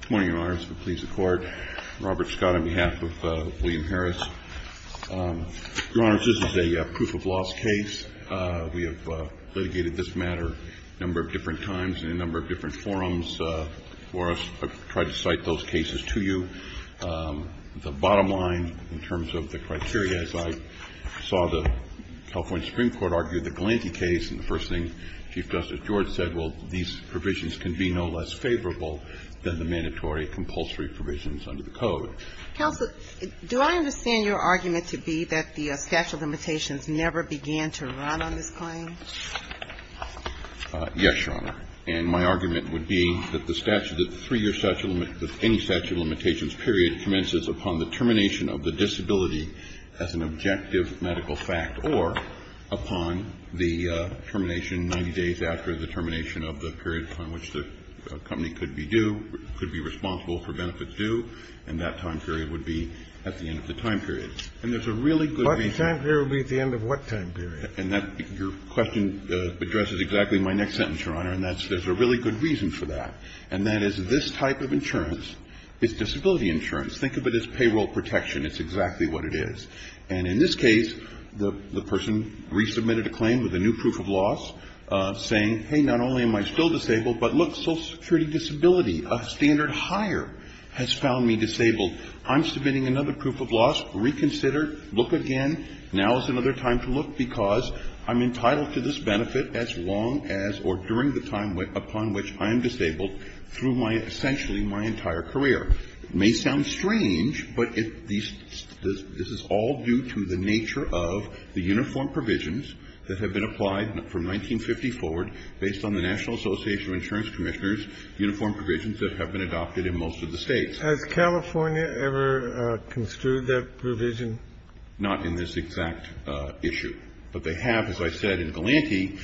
Good morning, Your Honors. It pleases the Court. Robert Scott on behalf of William Harris. Your Honors, this is a proof-of-loss case. We have litigated this matter a number of different times in a number of different forums for us to try to cite those cases to you. The bottom line, in terms of the criteria, as I saw the California Supreme Court argue the Galanti case, and the first thing Chief Justice George said, well, these provisions can be no less favorable than the mandatory compulsory provisions under the Code. Counsel, do I understand your argument to be that the statute of limitations never began to run on this claim? Yes, Your Honor. And my argument would be that the statute of the three-year statute of any statute of limitations period commences upon the termination of the disability as an objective medical fact, or upon the termination 90 days after the termination of the period upon which the company could be due, could be responsible for benefits due, and that time period would be at the end of the time period. And there's a really good reason. What time period would be at the end of what time period? And that question addresses exactly my next sentence, Your Honor, and there's a really good reason for that, and that is this type of insurance is disability insurance. Think of it as payroll protection. It's exactly what it is. And in this case, the person resubmitted a claim with a new proof of loss saying, hey, not only am I still disabled, but look, social security disability, a standard higher, has found me disabled. I'm submitting another proof of loss. Reconsider. Look again. Now is another time to look because I'm entitled to this benefit as long as or during the time upon which I am disabled through my essentially my entire career. It may sound strange, but this is all due to the nature of the uniform provisions that have been applied from 1950 forward based on the National Association of Insurance Commissioners, uniform provisions that have been adopted in most of the States. Kennedy. Has California ever construed that provision? Not in this exact issue. But they have, as I said in Galanti,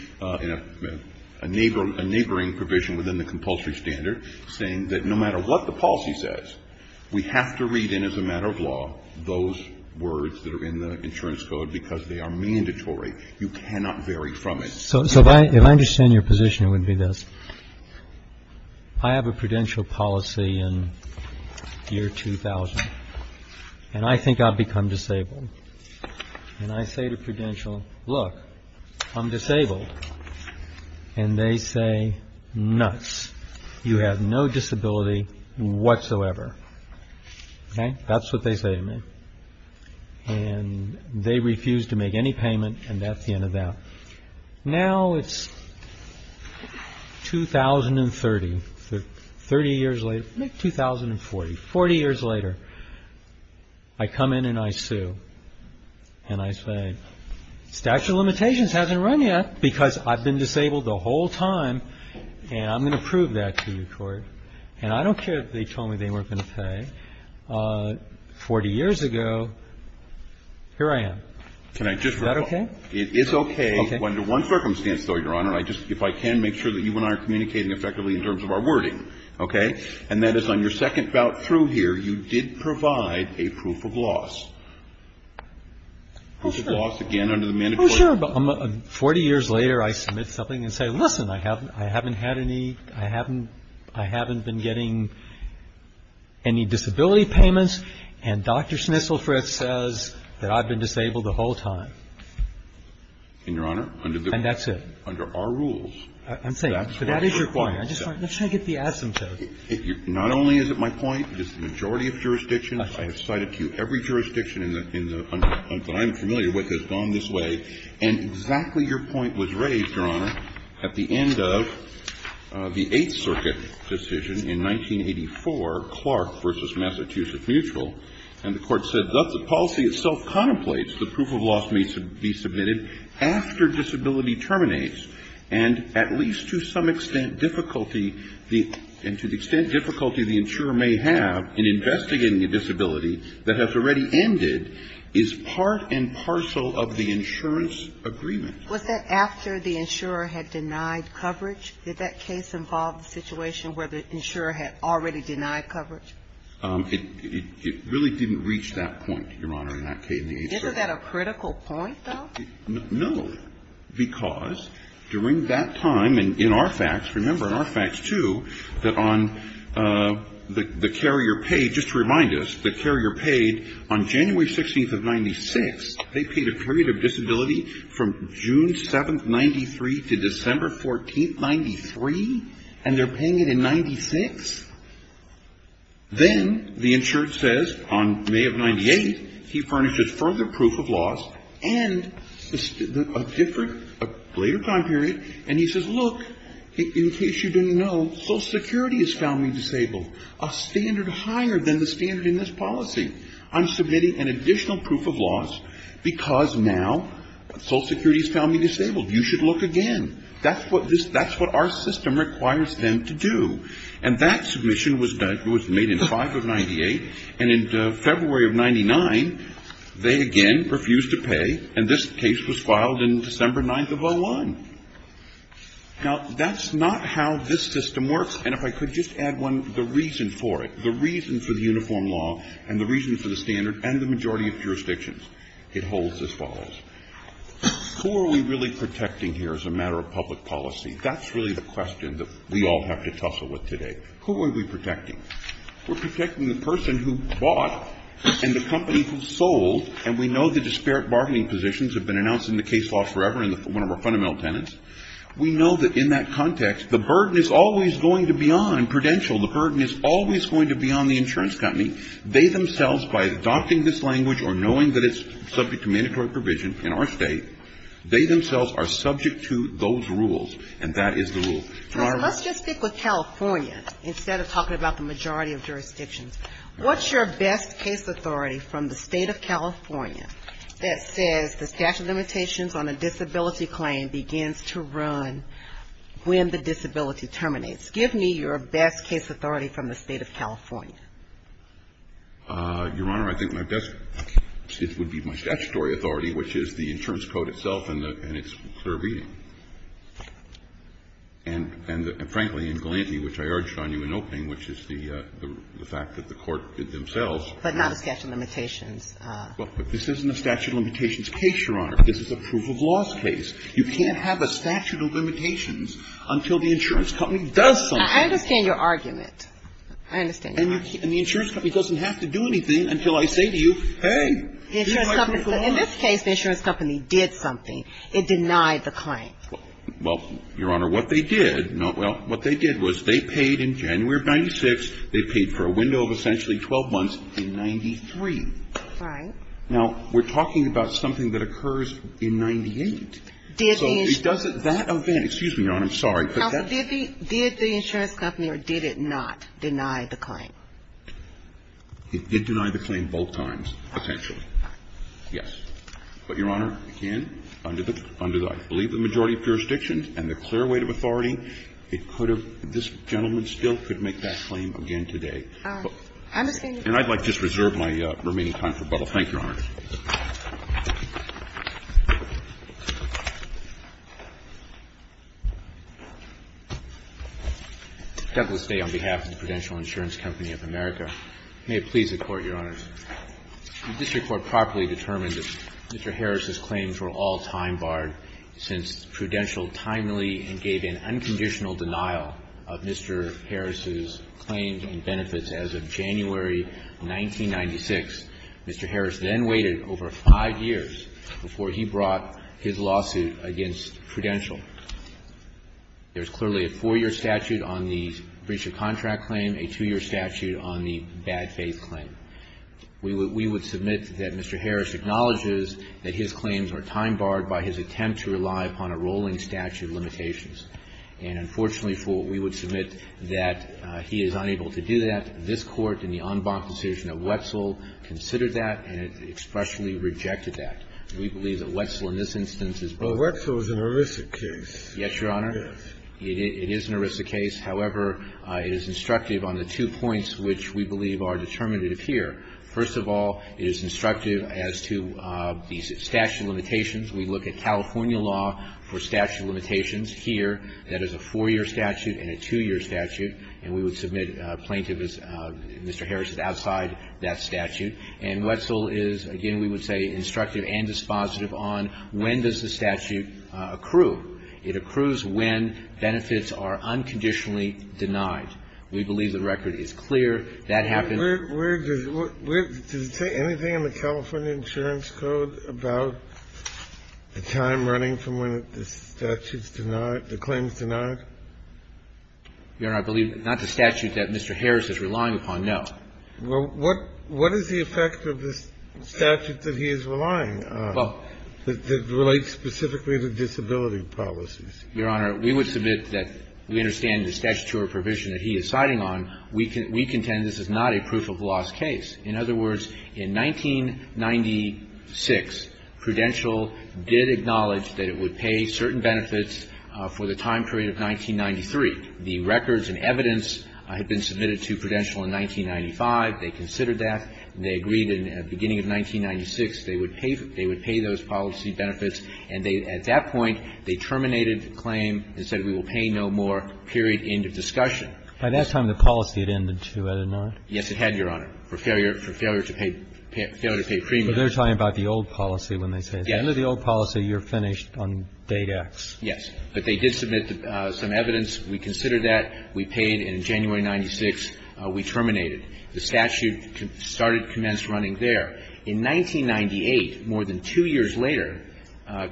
a neighboring provision within the compulsory standard saying that no matter what the policy says, we have to read in as a matter of law those words that are in the insurance code because they are mandatory. You cannot vary from it. So if I understand your position, it would be this. I have a prudential policy in year 2000, and I think I've become disabled. And I say to prudential, look, I'm disabled. And they say, nuts, you have no disability whatsoever. That's what they say to me. And they refuse to make any payment. And that's the end of that. Now, it's two thousand and thirty, thirty years later, two thousand and forty, forty years later. I come in and I sue. And I say, statute of limitations hasn't run yet because I've been disabled the whole time. And I'm going to prove that to you, Court. And I don't care if they told me they weren't going to pay. Forty years ago, here I am. Is that okay? It is okay. Okay. Under one circumstance, though, Your Honor. If I can make sure that you and I are communicating effectively in terms of our wording. Okay. And that is on your second bout through here, you did provide a proof of loss. Proof of loss, again, under the mandatory. Well, sure. Forty years later, I submit something and say, listen, I haven't had any, I haven't been getting any disability payments. And Dr. Snisselfrid says that I've been disabled the whole time. And, Your Honor, under the. And that's it. Under our rules. I'm saying, but that is your point. Let's try to get the asymptote. Not only is it my point, it's the majority of jurisdictions. I have cited to you every jurisdiction in the, that I'm familiar with has gone this way. And exactly your point was raised, Your Honor, at the end of the Eighth Circuit decision in 1984, Clark v. Massachusetts Mutual. And the Court said that the policy itself contemplates the proof of loss may be submitted after disability terminates. And at least to some extent difficulty, and to the extent difficulty the insurer may have in investigating a disability that has already ended is part and parcel of the insurance agreement. Was that after the insurer had denied coverage? Did that case involve the situation where the insurer had already denied coverage? It really didn't reach that point, Your Honor, in that case. Isn't that a critical point, though? No. Because during that time, and in our facts, remember in our facts, too, that on the carrier paid, just to remind us, the carrier paid on January 16th of 96, they paid a period of disability from June 7th, 93, to December 14th, 93? And they're paying it in 96? Then the insured says on May of 98, he furnishes further proof of loss and a different later time period, and he says, look, in case you didn't know, Social Security has found me disabled, a standard higher than the standard in this policy. I'm submitting an additional proof of loss because now Social Security has found me disabled. You should look again. That's what our system requires them to do. And that submission was made in 5 of 98, and in February of 99, they again refused to pay, and this case was filed in December 9th of 01. Now, that's not how this system works, and if I could just add one, the reason for it, the reason for the uniform law and the reason for the standard and the majority of jurisdictions, it holds as follows. Who are we really protecting here as a matter of public policy? That's really the question that we all have to tussle with today. Who are we protecting? We're protecting the person who bought and the company who sold, and we know the disparate bargaining positions have been announced in the case law forever in one of our fundamental tenets. We know that in that context, the burden is always going to be on, credential, the burden is always going to be on the insurance company. They themselves, by adopting this language or knowing that it's subject to mandatory provision in our state, they themselves are subject to those rules, and that is the rule. Your Honor. Let's just stick with California instead of talking about the majority of jurisdictions. What's your best case authority from the State of California that says the statute of limitations on a disability claim begins to run when the disability terminates? Your Honor, I think my best, it would be my statutory authority, which is the insurance code itself and the, and its clear reading. And frankly, in Galante, which I urged on you in opening, which is the fact that the court did themselves. But not the statute of limitations. But this isn't a statute of limitations case, Your Honor. This is a proof of loss case. You can't have a statute of limitations until the insurance company does something. I understand your argument. I understand your argument. And the insurance company doesn't have to do anything until I say to you, hey, here's my proof of loss. In this case, the insurance company did something. It denied the claim. Well, Your Honor, what they did, well, what they did was they paid in January of 1996. They paid for a window of essentially 12 months in 1993. Right. Now, we're talking about something that occurs in 1998. Did the insurance company. So it doesn't, that event, excuse me, Your Honor, I'm sorry. Counsel, did the insurance company or did it not deny the claim? It did deny the claim both times, potentially. Yes. But, Your Honor, again, under the, I believe the majority of jurisdictions and the clear weight of authority, it could have, this gentleman still could make that claim again today. I understand. And I'd like to just reserve my remaining time for rebuttal. Thank you, Your Honor. Douglas May, on behalf of the Prudential Insurance Company of America. May it please the Court, Your Honors. The district court properly determined that Mr. Harris's claims were all time barred since Prudential timely and gave an unconditional denial of Mr. Harris's claims and benefits as of January 1996. Mr. Harris then went on to deny the claims. He waited over five years before he brought his lawsuit against Prudential. There's clearly a four-year statute on the breach of contract claim, a two-year statute on the bad faith claim. We would submit that Mr. Harris acknowledges that his claims are time barred by his attempt to rely upon a rolling statute of limitations. And unfortunately for what we would submit, that he is unable to do that. We believe that this Court in the en banc decision of Wetzel considered that and expressly rejected that. We believe that Wetzel in this instance is both. But Wetzel is an ERISA case. Yes, Your Honor. Yes. It is an ERISA case. However, it is instructive on the two points which we believe are determinative here. First of all, it is instructive as to these statute of limitations. We look at California law for statute of limitations here. That is a four-year statute and a two-year statute. And we would submit a plaintiff as Mr. Harris is outside that statute. And Wetzel is, again, we would say instructive and dispositive on when does the statute accrue. It accrues when benefits are unconditionally denied. We believe the record is clear. That happens. Where does it say anything in the California insurance code about the time running from when the statute is denied, the claim is denied? Your Honor, I believe not the statute that Mr. Harris is relying upon, no. Well, what is the effect of this statute that he is relying on that relates specifically to disability policies? Your Honor, we would submit that we understand the statutory provision that he is citing on. We contend this is not a proof-of-loss case. In other words, in 1996, Prudential did acknowledge that it would pay certain policy benefits for the time period of 1993. The records and evidence had been submitted to Prudential in 1995. They considered that. They agreed in the beginning of 1996 they would pay those policy benefits. And at that point, they terminated the claim and said we will pay no more, period, end of discussion. By that time, the policy had ended, too, had it not? Yes, it had, Your Honor, for failure to pay premium. But they're talking about the old policy when they say that. But under the old policy, you're finished on date X. Yes. But they did submit some evidence. We considered that. We paid. And in January of 1996, we terminated. The statute started to commence running there. In 1998, more than two years later,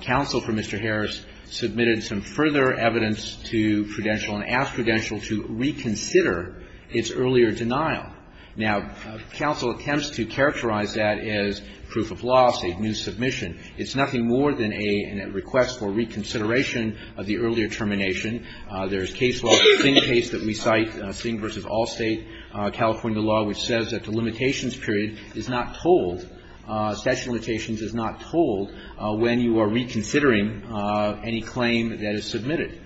counsel for Mr. Harris submitted some further evidence to Prudential and asked Prudential to reconsider its earlier denial. Now, counsel attempts to characterize that as proof of loss, a new submission. It's nothing more than a request for reconsideration of the earlier termination. There's case law, the Singh case that we cite, Singh v. Allstate, California law, which says that the limitations period is not told, statute of limitations is not told when you are reconsidering any claim that is submitted.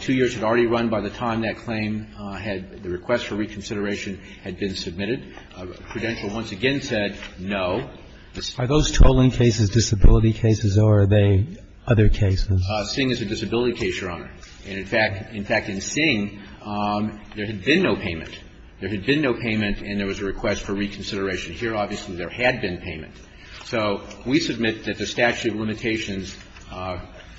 Two years had already run by the time that claim had, the request for reconsideration had been submitted. Prudential once again said no. Are those trolling cases disability cases or are they other cases? Singh is a disability case, Your Honor. And, in fact, in Singh, there had been no payment. There had been no payment and there was a request for reconsideration. Here, obviously, there had been payment. So we submit that the statute of limitations,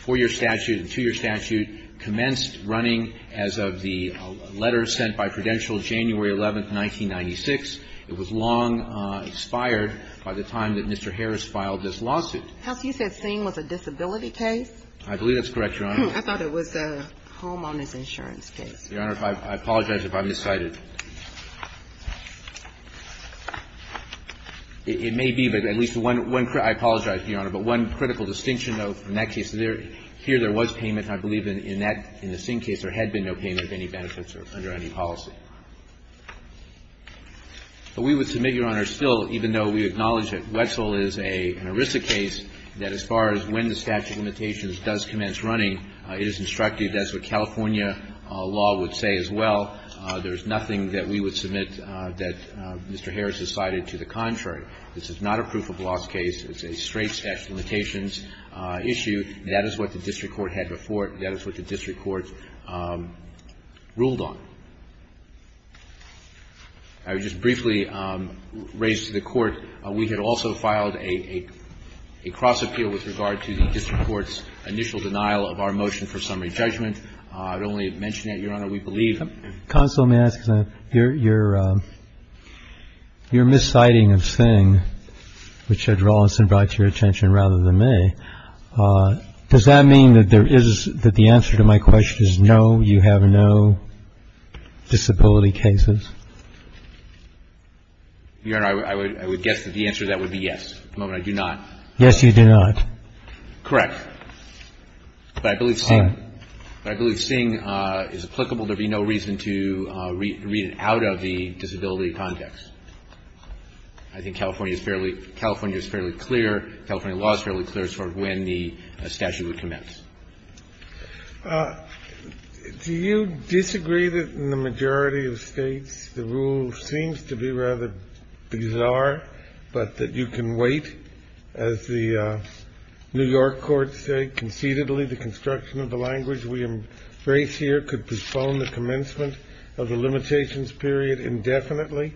four-year statute and two-year statute, commenced running as of the letter sent by Prudential January 11, 1996. It was long expired by the time that Mr. Harris filed this lawsuit. You said Singh was a disability case? I believe that's correct, Your Honor. I thought it was a homeowner's insurance case. Your Honor, I apologize if I've miscited. It may be, but at least one, I apologize, Your Honor. But one critical distinction, though, in that case, here there was payment. I believe in that, in the Singh case, there had been no payment of any benefits or under any policy. But we would submit, Your Honor, still, even though we acknowledge that Wetzel is an ERISA case, that as far as when the statute of limitations does commence running, it is instructive. That's what California law would say as well. There's nothing that we would submit that Mr. Harris has cited to the contrary. This is not a proof-of-loss case. It's a straight statute of limitations issue. That is what the district court had before it. That is what the district court ruled on. I would just briefly raise to the Court, we had also filed a cross-appeal with regard to the district court's initial denial of our motion for summary judgment. I would only mention that, Your Honor, we believe. Counsel, may I ask? Your misciting of Singh, which had Rawlinson brought to your attention rather than me, does that mean that there is, that the answer to my question is no, you have no disability cases? Your Honor, I would guess that the answer to that would be yes. The moment I do not. Yes, you do not. Correct. But I believe Singh is applicable. There would be no reason to read it out of the disability context. I think California is fairly, California is fairly clear. California law is fairly clear as far as when the statute would commence. Do you disagree that in the majority of States the rule seems to be rather bizarre, but that you can wait, as the New York courts say, concededly the construction of the language we embrace here could postpone the commencement of the limitations period indefinitely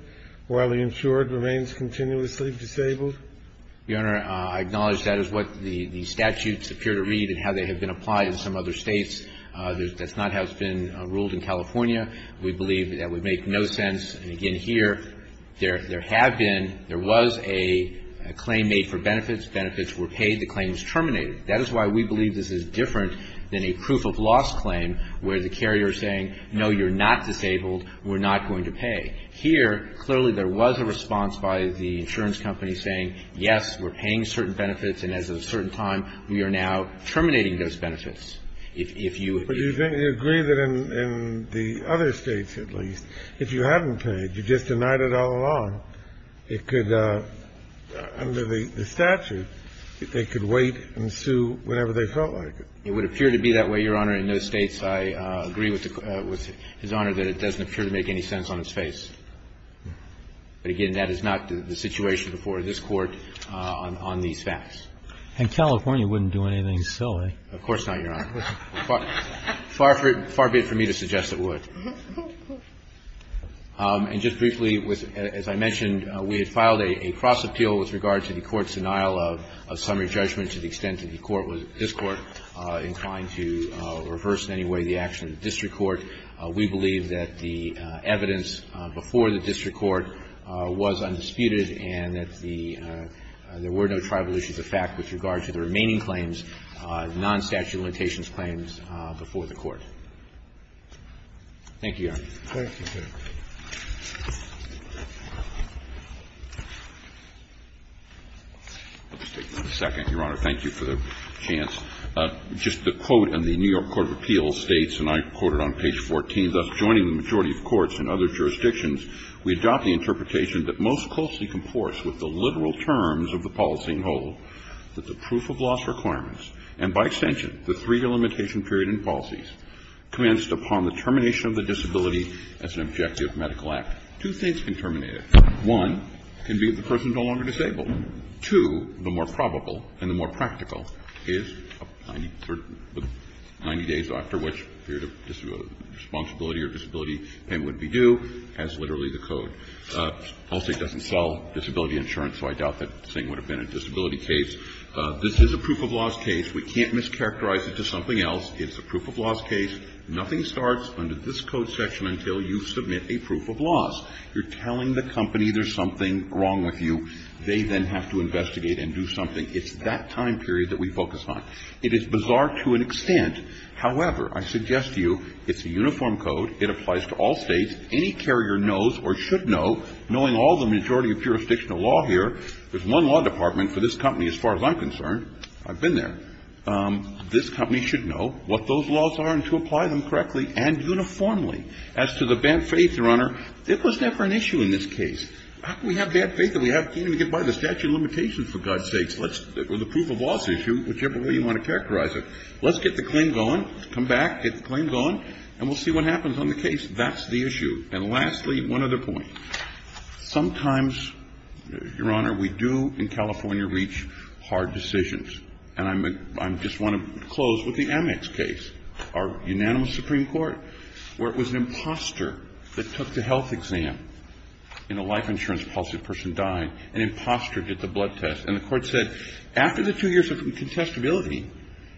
while the insured remains continuously disabled? Your Honor, I acknowledge that is what the statutes appear to read and how they have been applied in some other States. That's not how it's been ruled in California. We believe that would make no sense. And again, here, there have been, there was a claim made for benefits. Benefits were paid. The claim was terminated. That is why we believe this is different than a proof of loss claim where the carrier is saying, no, you're not disabled, we're not going to pay. Here, clearly, there was a response by the insurance company saying, yes, we're paying certain benefits, and as of a certain time, we are now terminating those benefits. If you agree that in the other States, at least, if you haven't paid, you just denied it all along, it could, under the statute, they could wait and sue whenever they felt like it. It would appear to be that way, Your Honor, in those States. I agree with His Honor that it doesn't appear to make any sense on its face. But again, that is not the situation before this Court on these facts. And California wouldn't do anything silly. Of course not, Your Honor. Far be it from me to suggest it would. And just briefly, as I mentioned, we had filed a cross-appeal with regard to the Court's denial of summary judgment to the extent that the Court, this Court, inclined to reverse in any way the action of the district court. We believe that the evidence before the district court was undisputed and that the – there were no tribal issues of fact with regard to the remaining claims, non-statute limitations claims before the Court. Thank you, Your Honor. Thank you, sir. I'll just take one second, Your Honor. Thank you for the chance. Just the quote in the New York Court of Appeals states, and I quote it on page 14, thus joining the majority of courts in other jurisdictions, we adopt the interpretation that most closely comports with the literal terms of the policy and hold that the proof of loss requirements, and by extension, the three-year limitation period in policies, commenced upon the termination of the disability as an objective medical act. Two things can terminate it. One can be that the person is no longer disabled. Two, the more probable and the more practical is 90 days after which period of responsibility or disability payment would be due as literally the code. Allstate doesn't sell disability insurance, so I doubt that this thing would have been a disability case. This is a proof of loss case. We can't mischaracterize it to something else. It's a proof of loss case. Nothing starts under this code section until you submit a proof of loss. You're telling the company there's something wrong with you. They then have to investigate and do something. It's that time period that we focus on. It is bizarre to an extent. However, I suggest to you it's a uniform code. It applies to all States. Any carrier knows or should know, knowing all the majority of jurisdictional law here, there's one law department for this company, as far as I'm concerned. I've been there. This company should know what those laws are and to apply them correctly and uniformly. As to the bad faith, Your Honor, there was never an issue in this case. How can we have bad faith if we can't even get by the statute of limitations, for God's sakes? Or the proof of loss issue, whichever way you want to characterize it. Let's get the claim going. Come back, get the claim going, and we'll see what happens on the case. That's the issue. And lastly, one other point. Sometimes, Your Honor, we do in California reach hard decisions. And I just want to close with the Amex case, our unanimous Supreme Court, where it was an imposter that took the health exam. In a life insurance policy, a person died. An imposter did the blood test. And the Court said, after the two years of incontestability,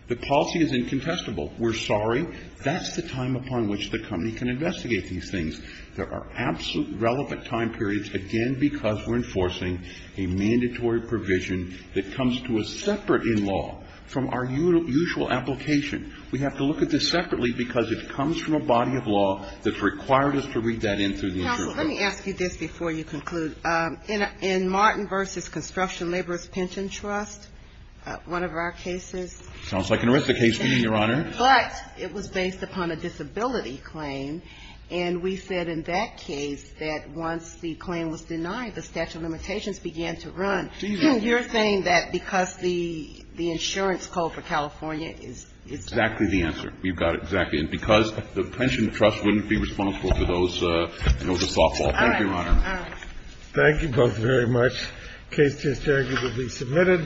the policy is incontestable. We're sorry. That's the time upon which the company can investigate these things. There are absolute relevant time periods, again, because we're enforcing a mandatory provision that comes to us separate in law from our usual application. We have to look at this separately because it comes from a body of law that's required us to read that in. Counsel, let me ask you this before you conclude. In Martin v. Construction Laborers' Pension Trust, one of our cases. Sounds like an horrific case to me, Your Honor. But it was based upon a disability claim. And we said in that case that once the claim was denied, the statute of limitations began to run. So you're saying that because the insurance code for California is different. Exactly the answer. We've got it exactly. And because the pension trust wouldn't be responsible for those, it was a softball. Thank you, Your Honor. All right. Thank you both very much. The case is staggeringly submitted.